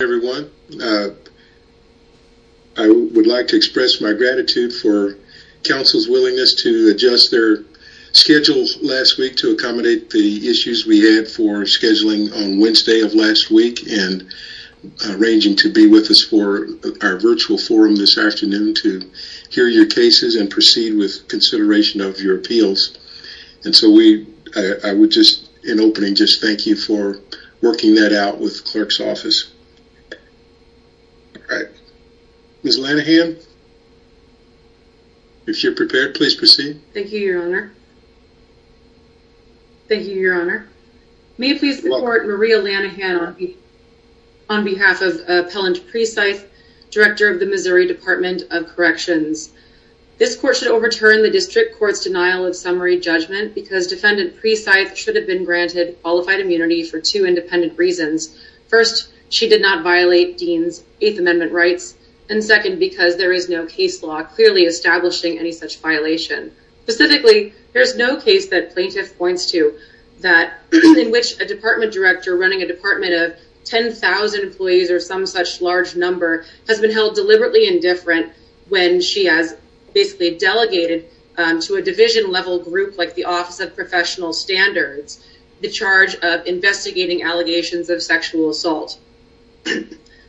Hi everyone. I would like to express my gratitude for Council's willingness to adjust their schedule last week to accommodate the issues we had for scheduling on Wednesday of last week and arranging to be with us for our virtual forum this afternoon to hear your cases and proceed with consideration of your appeals. And so we, I would just in opening just thank you for working that out with clerk's office. All right, Ms. Lanahan, if you're prepared please proceed. Thank you, your honor. Thank you, your honor. May it please the court Maria Lanahan on behalf of Appellant Precythe, Director of the Missouri Department of Corrections. This court should overturn the district court's denial of summary judgment because defendant Precythe should have been granted qualified immunity for two independent reasons. First, she did not violate Dean's eighth amendment rights. And second, because there is no case law clearly establishing any such violation. Specifically, there's no case that plaintiff points to that in which a department director running a department of 10,000 employees or some such large number has been held deliberately indifferent when she has basically delegated to a division level group like the office of professional standards, the charge of investigating allegations of sexual assault.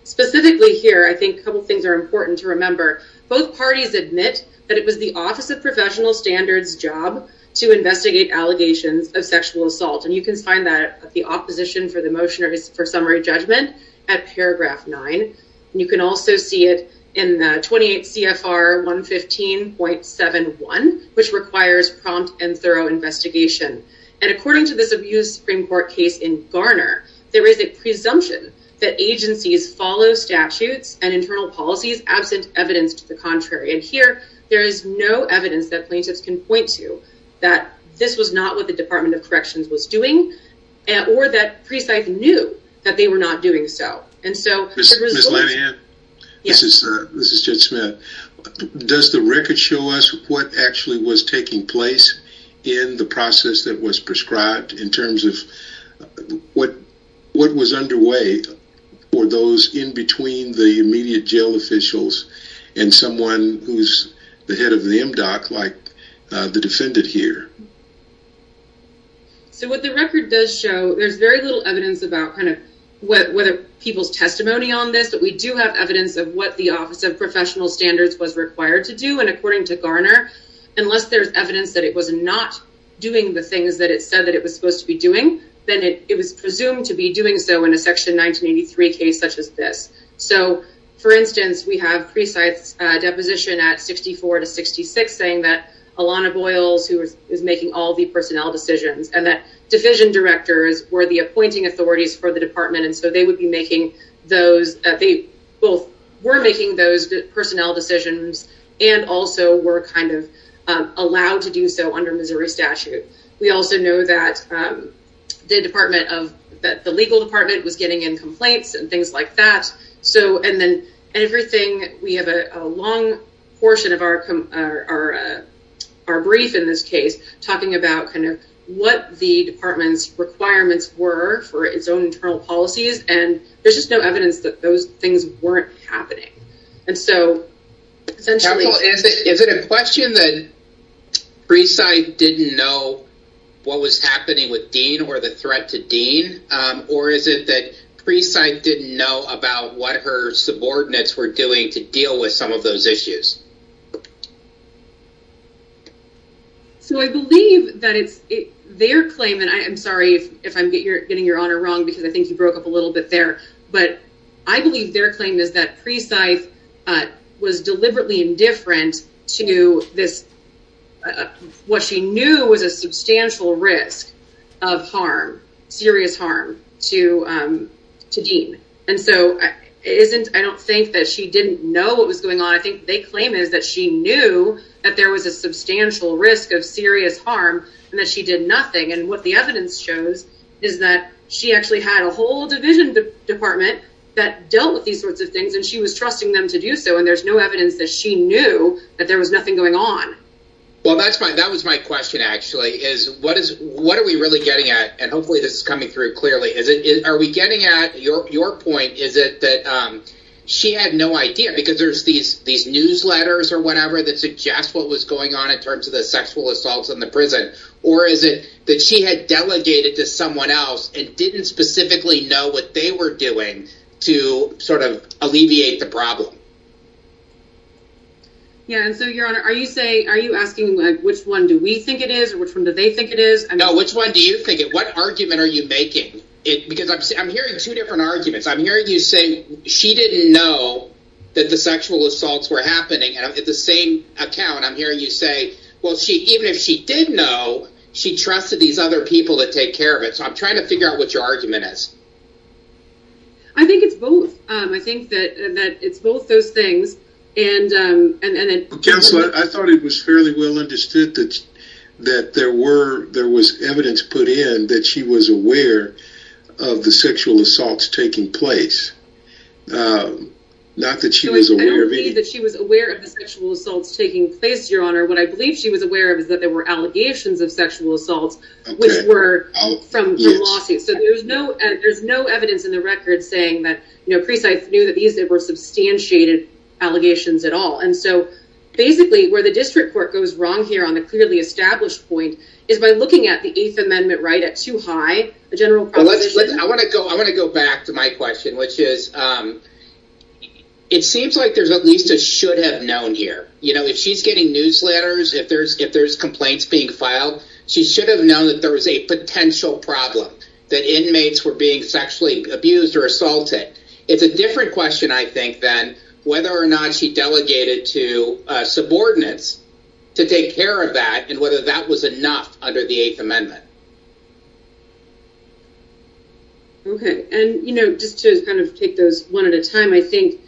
Specifically here, I think a couple of things are important to remember. Both parties admit that it was the office of professional standards job to investigate allegations of sexual assault. And you can find that at the opposition for the motion or for summary judgment at paragraph nine. And you can also see it in the 28 CFR 115.71, which requires prompt and thorough investigation. And according to this abuse Supreme Court case in Garner, there is a presumption that agencies follow statutes and internal policies absent evidence to the contrary. And here, there is no evidence that plaintiffs can point to that this was not what the Department of Corrections was doing, or that Precythe knew that they were not doing so. And so this is, this is Judge Smith. Does the record show us what actually was taking place in the process that was prescribed in terms of what was underway for those in between the immediate jail officials and someone who's the head of the MDOC like the defendant here? So what the record does show, there's very little evidence about kind of what whether people's testimony on this, but we do have evidence of what the office of professional standards was required to do. And according to Garner, unless there's evidence that it was not doing the things that it said that it was supposed to be doing, then it was presumed to be doing so in a section 1983 case such as this. So for instance, we have Precythe's deposition at 64 to 66 saying that Alana Boyles, who is making all the personnel decisions and that division directors were the appointing authorities for the department. And so they would be making those, they both were making those personnel decisions and also were kind of allowed to do so under Missouri statute. We also know that the department of, that the legal department was getting in complaints and things like that. So, and then everything, we have a long portion of our brief in this case talking about kind of what the department's requirements were for its own internal policies. And there's just no evidence that those things weren't happening. And so essentially... Is it a question that Precythe didn't know what was happening with Dean or the threat to Dean, or is it that Precythe didn't know about what her subordinates were doing to deal with some of those issues? So I believe that it's their claim, and I am sorry if I'm getting your honor wrong because I think you broke up a little bit there, but I believe their claim is that Precythe was deliberately indifferent to this, what she knew was a substantial risk of harm, serious harm, to Dean. And so I don't think that she didn't know what was going on. I think they claim is that she knew that there was a substantial risk of serious harm and that she did nothing. And what the evidence shows is that she actually had a whole division department that dealt with these sorts of things and she was trusting them to do so. And there's no evidence that she knew that there was nothing going on. Well, that's fine. That was my question, actually, is what are we really getting at? And hopefully this is coming through clearly. Are we getting at your point? Is it that she had no idea because there's these newsletters or whatever that suggest what was in the prison? Or is it that she had delegated to someone else and didn't specifically know what they were doing to sort of alleviate the problem? Yeah, and so your honor, are you saying, are you asking which one do we think it is or which one do they think it is? No, which one do you think it? What argument are you making? Because I'm hearing two different arguments. I'm hearing you say she didn't know that the sexual assaults were happening. And at the same account, I'm hearing you say, well, even if she did know, she trusted these other people that take care of it. So I'm trying to figure out what your argument is. I think it's both. I think that it's both those things. Counselor, I thought it was fairly well understood that there was evidence put in that she was aware of the sexual assaults taking place. Not that she was aware of it. I don't believe what I believe she was aware of is that there were allegations of sexual assaults, which were from the lawsuit. So there's no there's no evidence in the record saying that, you know, precise knew that these were substantiated allegations at all. And so basically where the district court goes wrong here on the clearly established point is by looking at the Eighth Amendment right at too high a general. I want to go I want to go back to my question, which is it seems like there's at least a should have known here. You know, if she's getting newsletters, if there's if there's complaints being filed, she should have known that there was a potential problem that inmates were being sexually abused or assaulted. It's a different question, I think, than whether or not she delegated to subordinates to take care of that and whether that was enough under the Eighth Amendment. Okay, and, you know, just to kind of take those one at a time, I think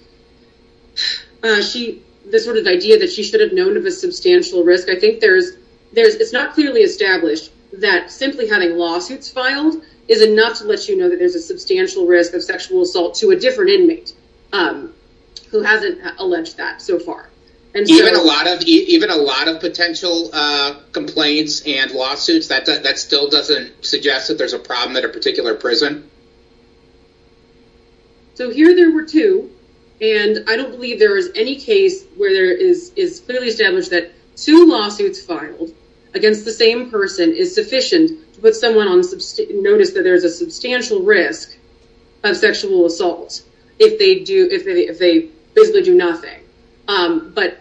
she this sort of idea that she should have known of a substantial risk. I think there's there's it's not clearly established that simply having lawsuits filed is enough to let you know that there's a substantial risk of sexual assault to a different inmate who hasn't alleged that so far. Even a lot of even a lot of potential complaints and lawsuits that that still doesn't suggest that there's a problem at a particular prison. So here there were two, and I don't believe there is any case where there is is clearly established that two lawsuits filed against the same person is sufficient to put someone on notice that there is a substantial risk of sexual assault if they do if they if they basically do nothing. But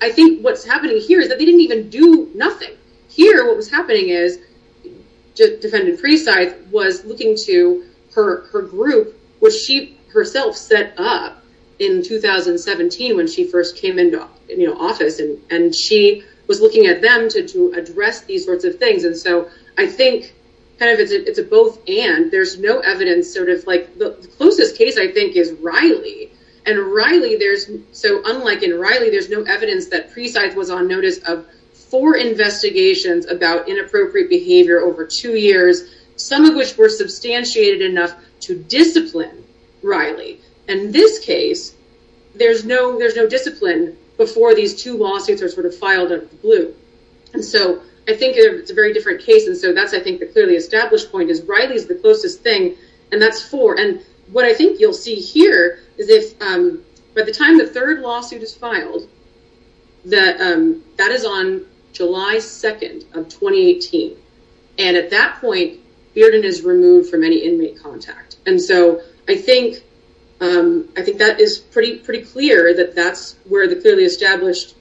I think what's happening here is that they didn't even do nothing here. What was happening is Defendant Freescythe was looking to her group, which she herself set up in 2017 when she first came into office, and she was looking at them to address these sorts of things. And so I think kind of it's a both and there's no evidence sort of the closest case I think is Riley. And Riley there's so unlike in Riley, there's no evidence that Freescythe was on notice of four investigations about inappropriate behavior over two years, some of which were substantiated enough to discipline Riley. And this case, there's no there's no discipline before these two lawsuits are sort of filed up blue. And so I think it's a very different case. And so that's I think the clearly established point is Riley is the closest thing. And that's four. And what I think you'll see here is if by the time the third lawsuit is filed, that is on July 2 of 2018. And at that point, Bearden is removed from any inmate contact. And so I think that is pretty clear that that's where the clearly established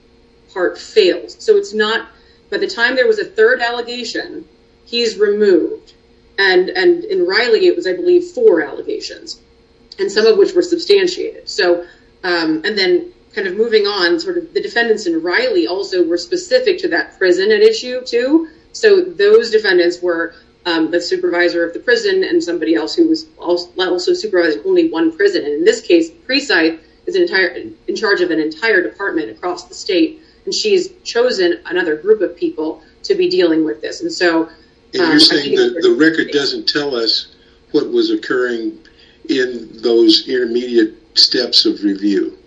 part allegations. And some of which were substantiated. So and then kind of moving on sort of the defendants in Riley also were specific to that prison and issue too. So those defendants were the supervisor of the prison and somebody else who was also supervising only one prison. And in this case, Freescythe is in charge of an entire department across the state. And she's chosen another group of people to be dealing with this. And so you're saying that the record doesn't tell us what was occurring in those intermediate steps of review.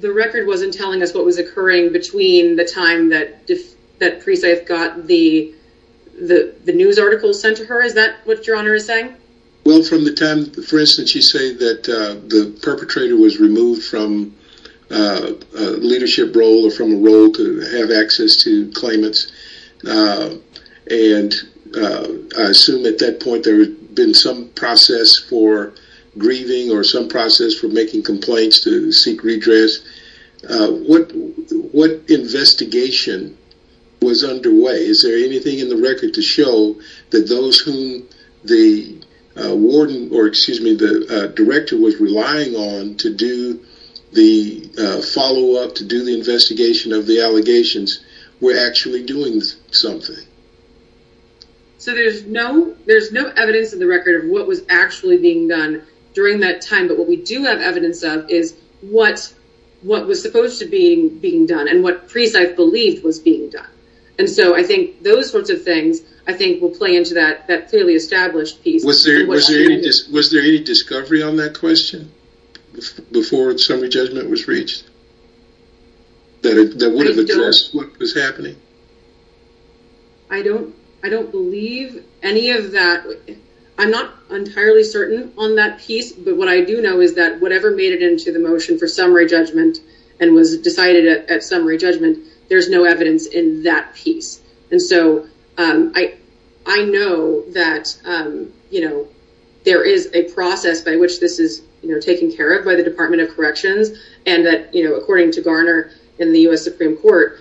The record wasn't telling us what was occurring between the time that that Freescythe got the the news article sent to her. Is that what your honor is saying? Well, from the time, for instance, you say that the perpetrator was removed from a leadership role or from a role to have access to claimants. And I assume at that point, there had been some process for grieving or some process for making complaints to seek redress. What investigation was underway? Is there anything in the record to show that those whom the warden or excuse me, the director was relying on to do the follow up, to do the investigation of the allegations were actually doing something? So there's no evidence in the record of what was actually being done during that time. But what we do have evidence of is what was supposed to be being done and what Freescythe believed was being done. And so I think those sorts of things, I think, will play into that clearly established piece. Was there any discovery on that question before the summary judgment was reached? That would have addressed what was happening? I don't believe any of that. I'm not entirely certain on that piece. But what I do know is that whatever made it into the motion for summary judgment, there's no evidence in that piece. And so I know that there is a process by which this is taken care of by the Department of Corrections. And that according to Garner in the U.S. Supreme Court,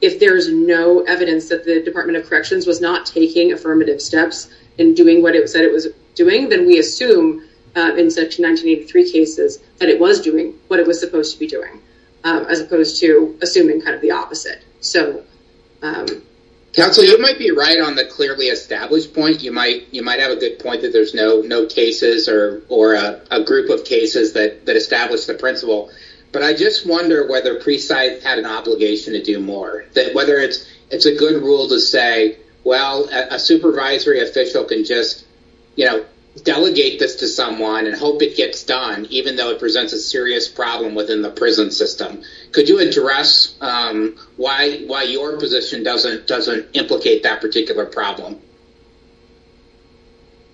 if there's no evidence that the Department of Corrections was not taking affirmative steps in doing what it said it was doing, then we assume in such 1983 cases that it was doing what it was supposed to be doing, as opposed to assuming kind of the opposite. Counselor, you might be right on the clearly established point. You might have a good point that there's no cases or a group of cases that establish the principle. But I just wonder whether Freescythe had an obligation to do more, whether it's a good rule to say, well, a supervisory official can just, you know, delegate this to someone and hope it gets done, even though it presents a serious problem within the prison system. Could you address why your position doesn't implicate that particular problem?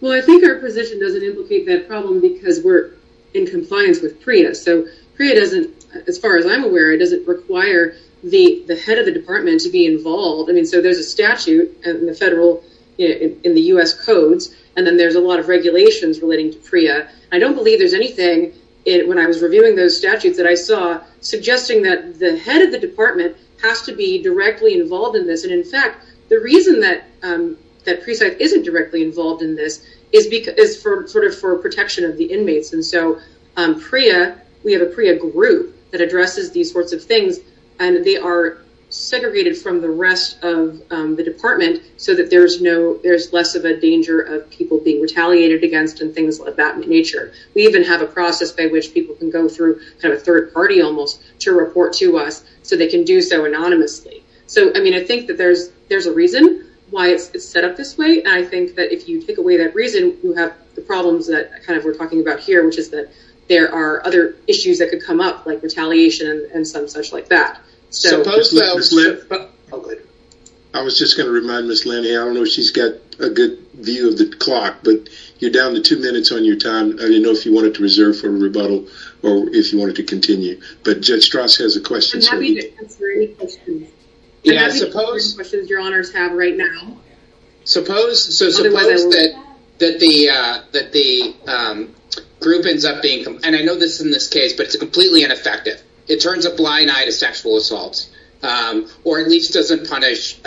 Well, I think our position doesn't implicate that problem because we're in compliance with PREA. So PREA doesn't, as far as I'm aware, doesn't require the head of the department to be involved. I mean, so there's a statute in the federal, in the U.S. codes, and then there's a lot of regulations relating to PREA. I don't believe there's anything, when I was reviewing those statutes, that I saw suggesting that the head of the department has to be directly involved in this. And in fact, the reason that Freescythe isn't directly involved in this is for protection of the inmates. And so PREA, we have a PREA group that addresses these sorts of things, and they are so that there's less of a danger of people being retaliated against and things of that nature. We even have a process by which people can go through kind of a third party, almost, to report to us so they can do so anonymously. So, I mean, I think that there's a reason why it's set up this way. And I think that if you take away that reason, you have the problems that kind of we're talking about here, which is that there are other issues that could come up, like retaliation and some such like that. I was just going to remind Ms. Lanny, I don't know if she's got a good view of the clock, but you're down to two minutes on your time. I didn't know if you wanted to reserve for rebuttal or if you wanted to continue, but Judge Strauss has a question. I'm happy to answer any questions. I'm happy to answer any questions your honors have right now. So suppose that the group ends up being, and I know this in this case, but it's it turns a blind eye to sexual assaults or at least doesn't punish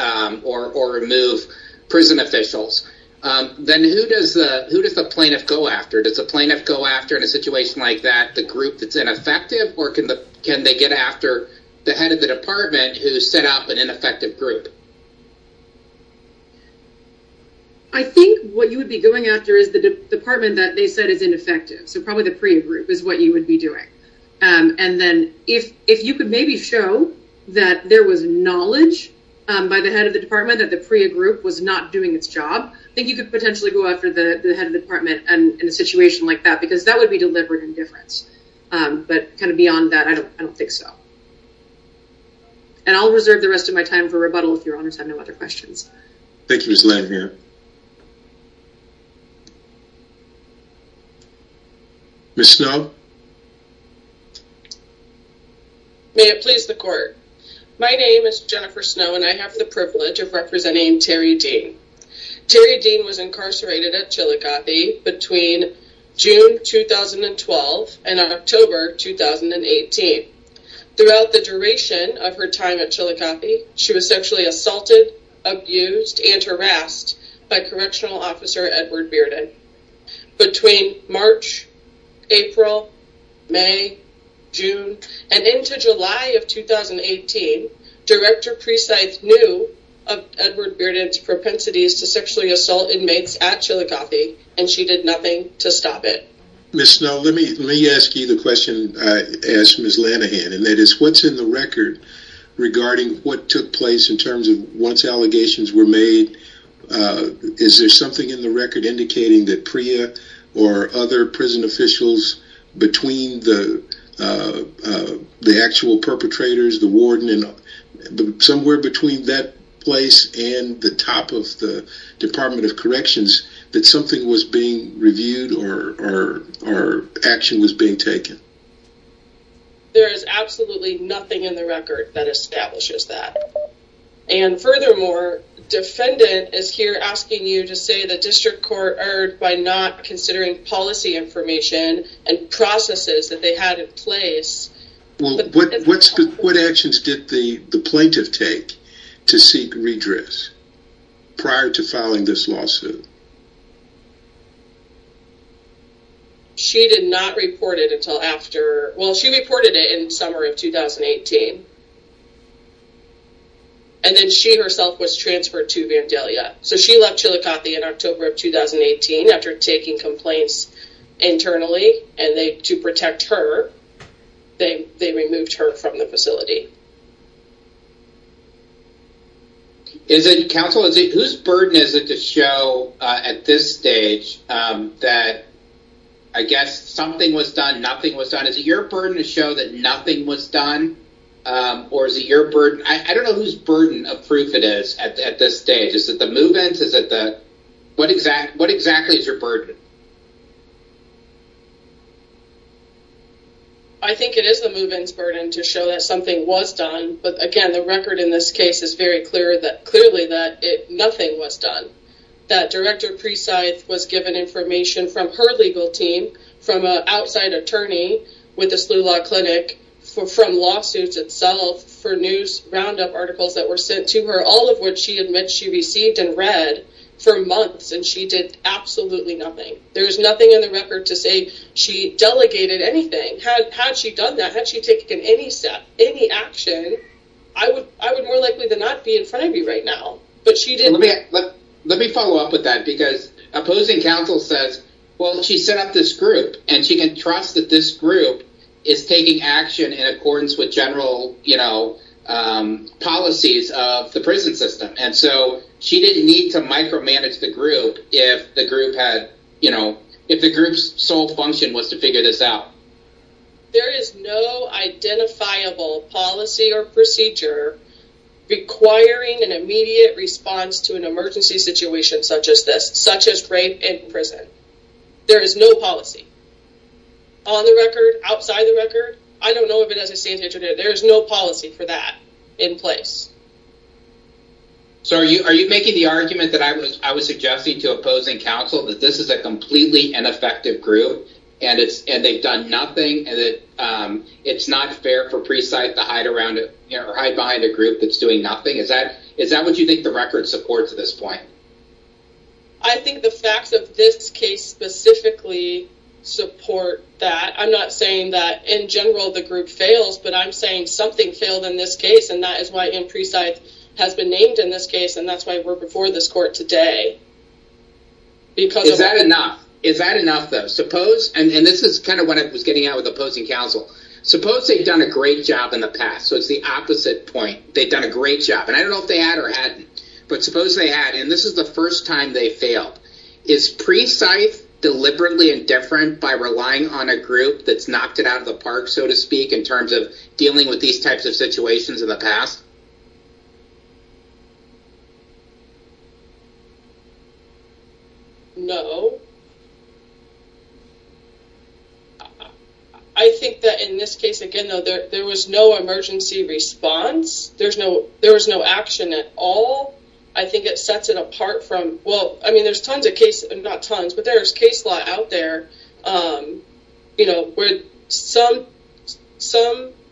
or remove prison officials. Then who does the plaintiff go after? Does the plaintiff go after in a situation like that the group that's ineffective or can they get after the head of the department who set up an ineffective group? I think what you would be going after is the department that they said is ineffective. So if you could maybe show that there was knowledge by the head of the department that the PREA group was not doing its job, I think you could potentially go after the head of the department and in a situation like that because that would be delivered indifference. But kind of beyond that, I don't think so. And I'll reserve the rest of my time for rebuttal if your honors have other questions. Thank you Ms. Lynn here. Ms. Snow. May it please the court. My name is Jennifer Snow and I have the privilege of representing Terry Dean. Terry Dean was incarcerated at Chillicothe between June 2012 and October 2018. Throughout the duration of her time at Chillicothe, she was sexually assaulted, abused, and harassed by Correctional Officer Edward Bearden. Between March, April, May, June, and into July of 2018, Director Precythe knew of Edward Bearden's propensities to sexually assault inmates at Chillicothe and she did nothing to stop it. Ms. Snow, let me let me ask you the question I asked Ms. Lanahan and that is what's in the record regarding what took place in terms of once allegations were made, is there something in the record indicating that Priya or other prison officials between the actual perpetrators, the warden, and somewhere between that place and the top of the Department of Corrections that something was being reviewed or action was being taken? There is absolutely nothing in the record that establishes that and furthermore defendant is here asking you to say the district court erred by not considering policy information and processes that they had in place. What actions did the plaintiff take to seek redress prior to filing this lawsuit? She did not report it until after, well she reported it in summer of 2018 and then she herself was transferred to Vandalia. So she left Chillicothe in October of 2018 after taking complaints internally and they to protect her they they removed her from the facility. Is it counsel, whose burden is it to show at this stage that I guess something was done, nothing was done, is it your burden to show that nothing was done or is it your burden? I don't know whose burden of proof it is at this stage, is it the move-ins, is it the what exactly is your burden? I think it is the move-ins burden to show that something was done but again the record in this case is very clear that clearly that it nothing was done. That Director Precythe was given information from her legal team, from an outside attorney with the Slough Law Clinic, from lawsuits itself, for news roundup articles that were sent to her, all of which she admits she received and read for months and she did absolutely nothing. There's nothing in the record that says she delegated anything. Had she done that, had she taken any step, any action, I would more likely than not be in front of you right now. Let me follow up with that because opposing counsel says well she set up this group and she can trust that this group is taking action in accordance with general policies of the prison system and so she didn't need to micromanage the out. There is no identifiable policy or procedure requiring an immediate response to an emergency situation such as this, such as rape in prison. There is no policy. On the record, outside the record, I don't know if it as I see it, there is no policy for that in place. So are you making the argument that I was suggesting to opposing counsel that this is a completely ineffective group and they've done nothing and that it's not fair for Presythe to hide behind a group that's doing nothing? Is that what you think the record supports at this point? I think the facts of this case specifically support that. I'm not saying that in general the group fails, but I'm saying something failed in this case and that is why M. Presythe has been named in this case and that's why we're before this court today. Is that enough? Is that enough though? Suppose, and this is kind of what I was getting at with opposing counsel, suppose they've done a great job in the past, so it's the opposite point. They've done a great job and I don't know if they had or hadn't, but suppose they had and this is the first time they failed. Is Presythe deliberately indifferent by relying on a group that's knocked it out of the park, so to speak, in terms of accountability? No. I think that in this case, again though, there was no emergency response. There was no action at all. I think it sets it apart from, well, I mean there's tons of cases, not tons, but there's case law out there, you know, where some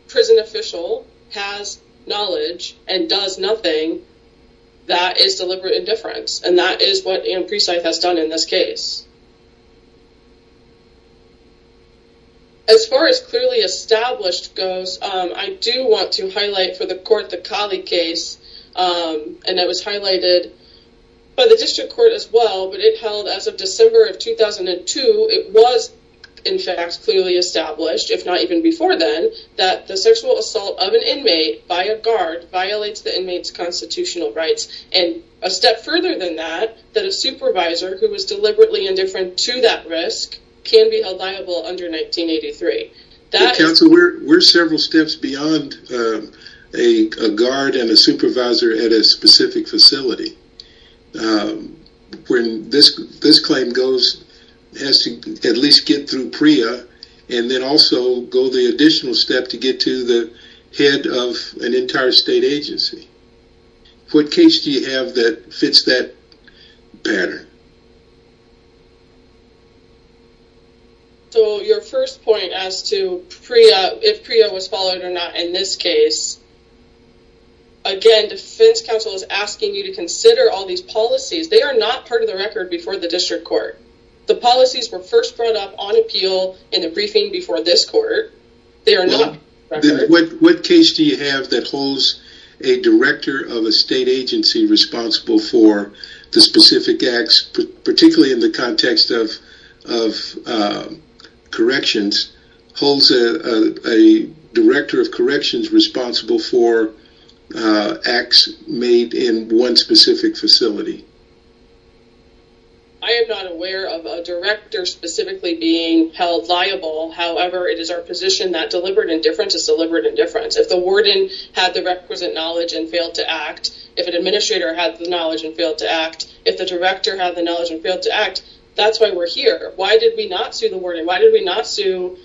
prison official has knowledge and does nothing that is deliberate indifference and that is what M. Presythe has done in this case. As far as clearly established goes, I do want to highlight for the court the Kali case and that was highlighted by the district court as well, but it held as of December of 2002. It was, in fact, clearly established, if not even before then, that the sexual assault of an inmate by a guard violates the inmate's constitutional rights and a step further than that, that a supervisor who was deliberately indifferent to that risk can be held liable under 1983. Counsel, we're several steps beyond a guard and a supervisor at a specific facility. When this claim goes, it has to at least get through PREA and then also go the additional step to get to the head of an entire state agency. What case do you have that fits that pattern? So your first point as to PREA, if PREA was followed or not in this case, again, defense counsel is asking you to consider all these policies. They are not part of the record before the district court. The policies were first brought up on appeal in the briefing before this court. What case do you have that holds a director of a state agency responsible for the specific acts, particularly in the context of corrections, holds a director of corrections responsible for acts made in one specific facility? I am not aware of a director specifically being held liable. However, it is our position that deliberate indifference is deliberate indifference. If the warden had the requisite knowledge and failed to act, if an administrator had the knowledge and failed to act, if the director had the knowledge and failed to act, that's why we're here. Why did we not sue the warden? Why did we not sue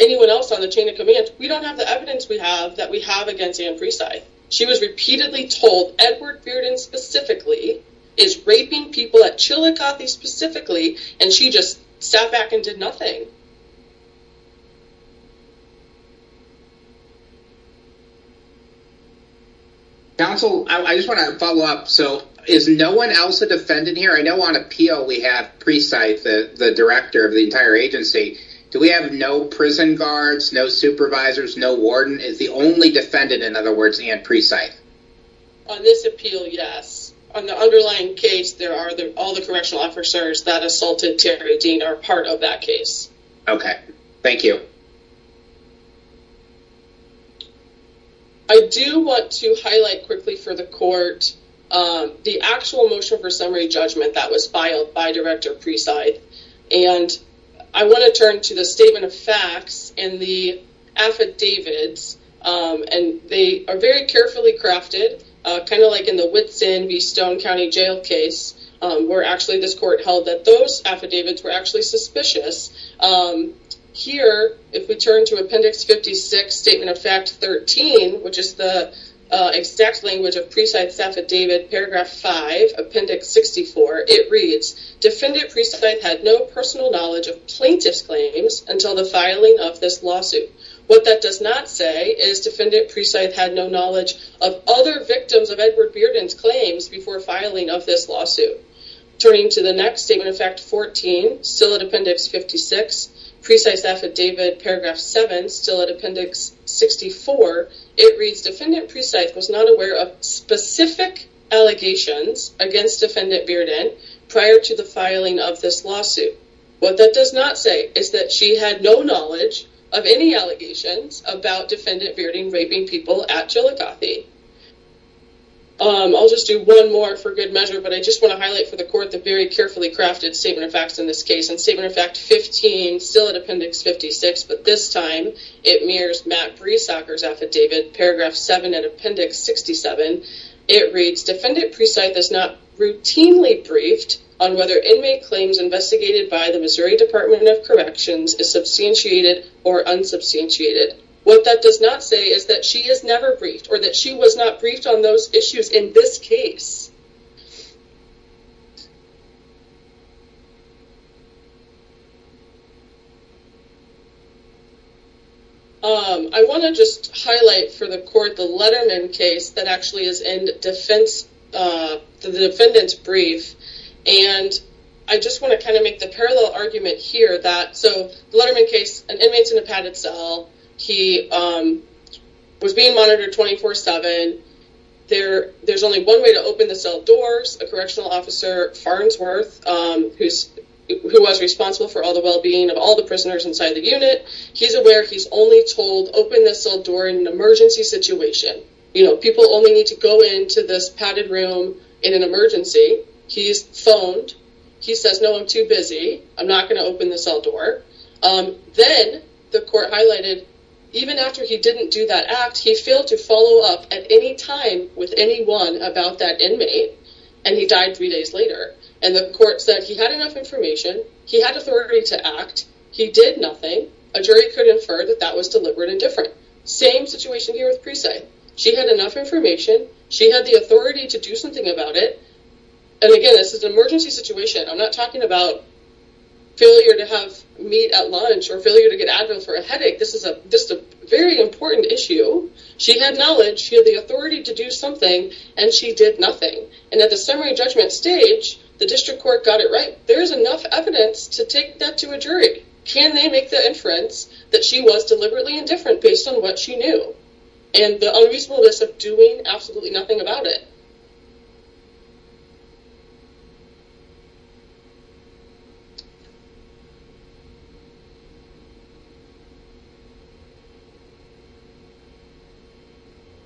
anyone else on the chain of command? We don't have the evidence we have that we have against Anne Presi. She was repeatedly told Edward Bearden specifically is raping people at Chillicothe specifically, and she just sat back and did nothing. Counsel, I just want to follow up. So is no one else a defendant here? I know on appeal we have Presi, the director of the entire agency. Do we have no prison guards, no supervisors, no warden? Is the only defendant, in other words, Anne Presi? On this appeal, yes. On the underlying case, all the correctional officers that assaulted Terry Dean are part of that case. Okay, thank you. I do want to highlight quickly for the court the actual motion for summary judgment that was filed by Director Presi, and I want to turn to the statement of facts and the affidavits, and they are very carefully crafted, kind of like in the Whitson v. Stone County jail case, where actually this court held that those affidavits were actually suspicious. Here, if we turn to appendix 56, statement of fact 13, which is the exact language of Presi's affidavit, paragraph 5, appendix 64, it reads, defendant Presi had no personal knowledge of plaintiff's claims until the filing of this lawsuit. What that does not say is defendant Presi had no knowledge of other victims of Edward Bearden's claims before filing of this lawsuit. Turning to the next statement of fact 14, still at appendix 56, Presi's affidavit, paragraph 7, still at appendix 64, it reads, defendant Presi was not aware of specific allegations against defendant Bearden prior to the filing of this lawsuit. What that does not say is that she had no knowledge of any allegations about defendant Bearden raping people at Jellicothe. I'll just do one more for good measure, but I just want to highlight for the court the very carefully crafted statement of facts in this case, and statement of fact 15, still at appendix 56, but this time it mirrors Matt Breesacker's affidavit, paragraph 7, at appendix 67. It reads, defendant Presi is not routinely briefed on whether inmate claims investigated by the Missouri Department of Corrections is substantiated or unsubstantiated. What that does not say is that she is never briefed or that she was not briefed on those issues in this case. I want to just highlight for the court the Letterman case that actually is in the defendant's brief, and I just want to kind of make the parallel argument here that, so the Letterman case, an inmate's in a padded cell, he was being monitored 24-7, there's only one way to open the cell doors, a correctional officer, Farnsworth, who was responsible for all the well-being of all the prisoners inside the unit, he's aware he's only told open the cell door in an emergency situation. People only need to go into this padded room in an emergency. He's phoned, he says, no, I'm too busy, I'm not going to open the cell door. Then the court highlighted, even after he didn't do that act, he failed to follow up at any time with anyone about that inmate, and he died three days later. And the court said he had enough information, he had authority to act, he did nothing, a jury could infer that that was deliberate and different. Same situation here with Presi. She had enough information, she had the authority to do something about it. And again, this is an emergency situation, I'm not talking about failure to have meat at lunch or failure to get Advil for a headache, this is a very important issue. She had knowledge, she had the authority to do something, and she did nothing. And at the summary judgment stage, the district court got it right. There's enough evidence to take that to a jury. Can they make the inference that she was deliberately indifferent based on what she knew? And the unreasonableness of doing absolutely nothing about it.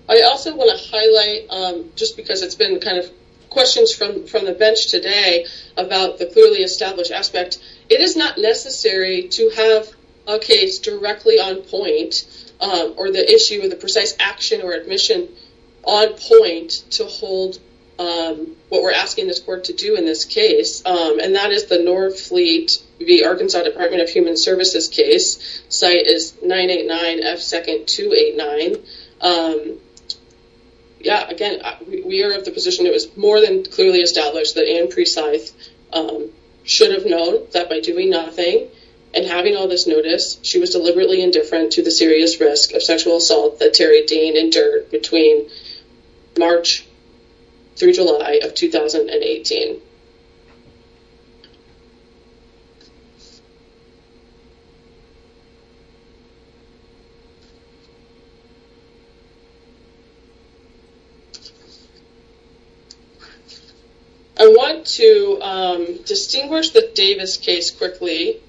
I also want to highlight, just because it's been kind of questions from the bench today about the clearly established aspect, it is not necessary to have a case directly on point or the issue with the precise action or admission on point to hold what we're asking this court to do in this case. And that is the North Fleet v. Arkansas Department of Human Services case. Site is 989F2289. Yeah, again, we are of the position it was more than clearly established that Anne Presi should have known that by doing nothing and having all this notice, she was deliberately indifferent to the serious risk of sexual assault that Terry Dean entered between March through July of 2018. I want to distinguish the Davis case quickly,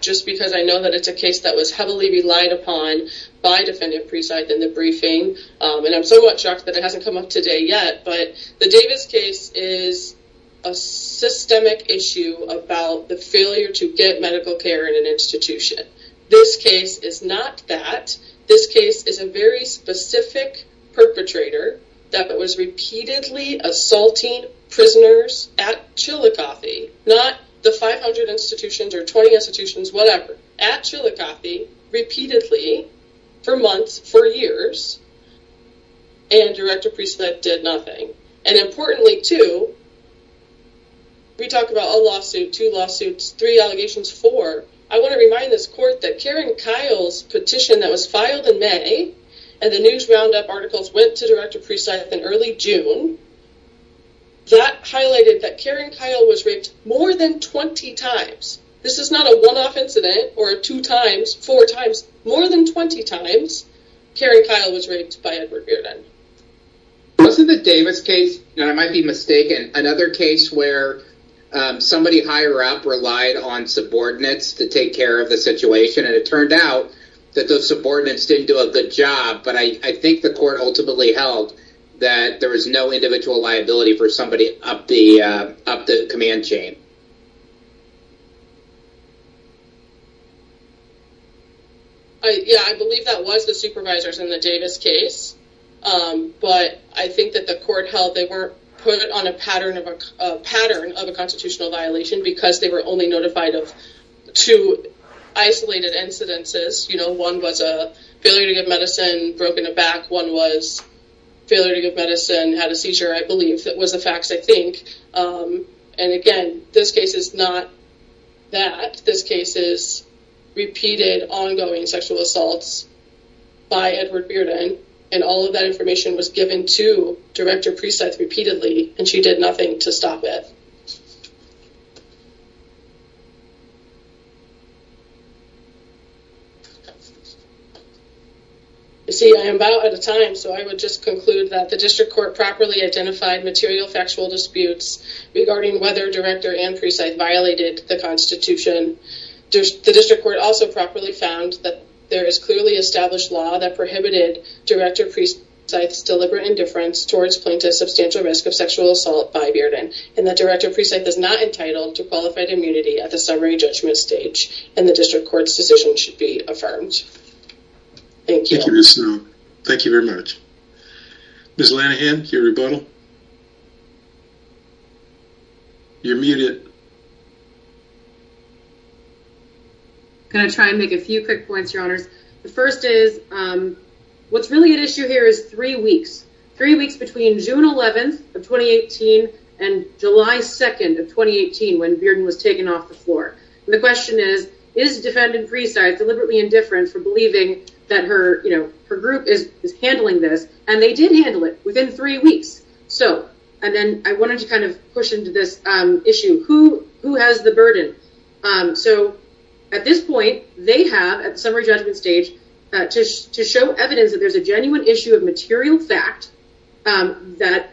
just because I know that it's a case that was heavily relied upon by Defendant Presi within the briefing. And I'm so much shocked that it was a systemic issue about the failure to get medical care in an institution. This case is not that. This case is a very specific perpetrator that was repeatedly assaulting prisoners at Chillicothe, not the 500 institutions or 20 institutions, whatever, at Chillicothe, repeatedly for months, for years. And Director Presi did nothing. And importantly, too, we talk about a lawsuit, two lawsuits, three allegations, four. I want to remind this court that Karen Kyle's petition that was filed in May and the News Roundup articles went to Director Presi in early June. That highlighted that Karen Kyle was raped more than 20 times. This is not a one-off incident or two times, four times, more than 20 times. Karen Kyle was raped by Edward Bearden. This is the Davis case, and I might be mistaken, another case where somebody higher up relied on subordinates to take care of the situation. And it turned out that those subordinates didn't do a good job. But I think the court ultimately held that there was no individual liability for somebody up the command chain. Yeah, I believe that was the supervisors in the Davis case. But I think that the court held they were put on a pattern of a constitutional violation because they were only notified of two isolated incidences. One was a failure to give medicine, broke in the back. One was failure to give medicine, had a seizure, I believe. That was the facts, I think. And again, this case is not that. This case is repeated ongoing sexual assaults by Edward Bearden, and all of that information was given to Director Presi repeatedly, and she did nothing to stop it. You see, I am about out of time, so I would just conclude that the District Court properly identified material factual disputes regarding whether Director and Presi violated the Constitution. The District Court also properly found that there is clearly established law that prohibited Director Presi's deliberate indifference towards plaintiffs' substantial risk of sexual assault by Bearden, and that Director Presi is not entitled to qualified immunity at the summary judgment stage, and the District Court's decision should be affirmed. Thank you. Thank you very much. Ms. Lanahan, your rebuttal. You're muted. I'm going to try and make a few quick points, Your Honors. The first is what's really at issue here is three weeks. Three weeks between June 11th of 2018 and July 2nd of 2018 when Bearden was taken off the floor. The question is, is Defendant Presi deliberately indifferent for believing that her group is handling this, and they did handle it within three weeks. So, and then I wanted to kind of push into this issue. Who has the burden? So, at this point, they have, at the summary judgment stage, to show evidence that there's a genuine issue of material fact that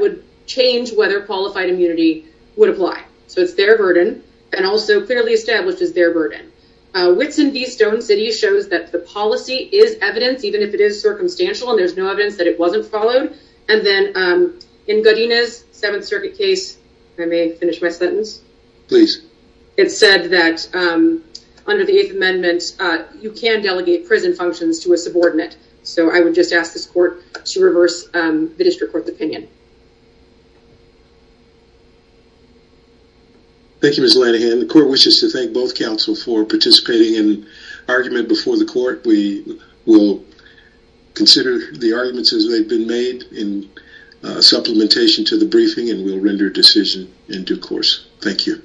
would change whether qualified immunity would apply. So, it's their burden, and also clearly establishes their burden. Whitson v. Stone City shows that the policy is evidence, even if it is circumstantial, and there's no evidence that it wasn't followed. And then in Godinez, Seventh Circuit case, I may finish my sentence. Please. It said that under the Eighth Amendment, you can delegate prison functions to a subordinate. So, I would just ask this court to reverse the District Court's opinion. Thank you, Ms. Lanahan. The court wishes to thank both counsel for participating in argument before the court. We will consider the arguments as they've been made in supplementation to the briefing, and we'll render decision in due course. Thank you.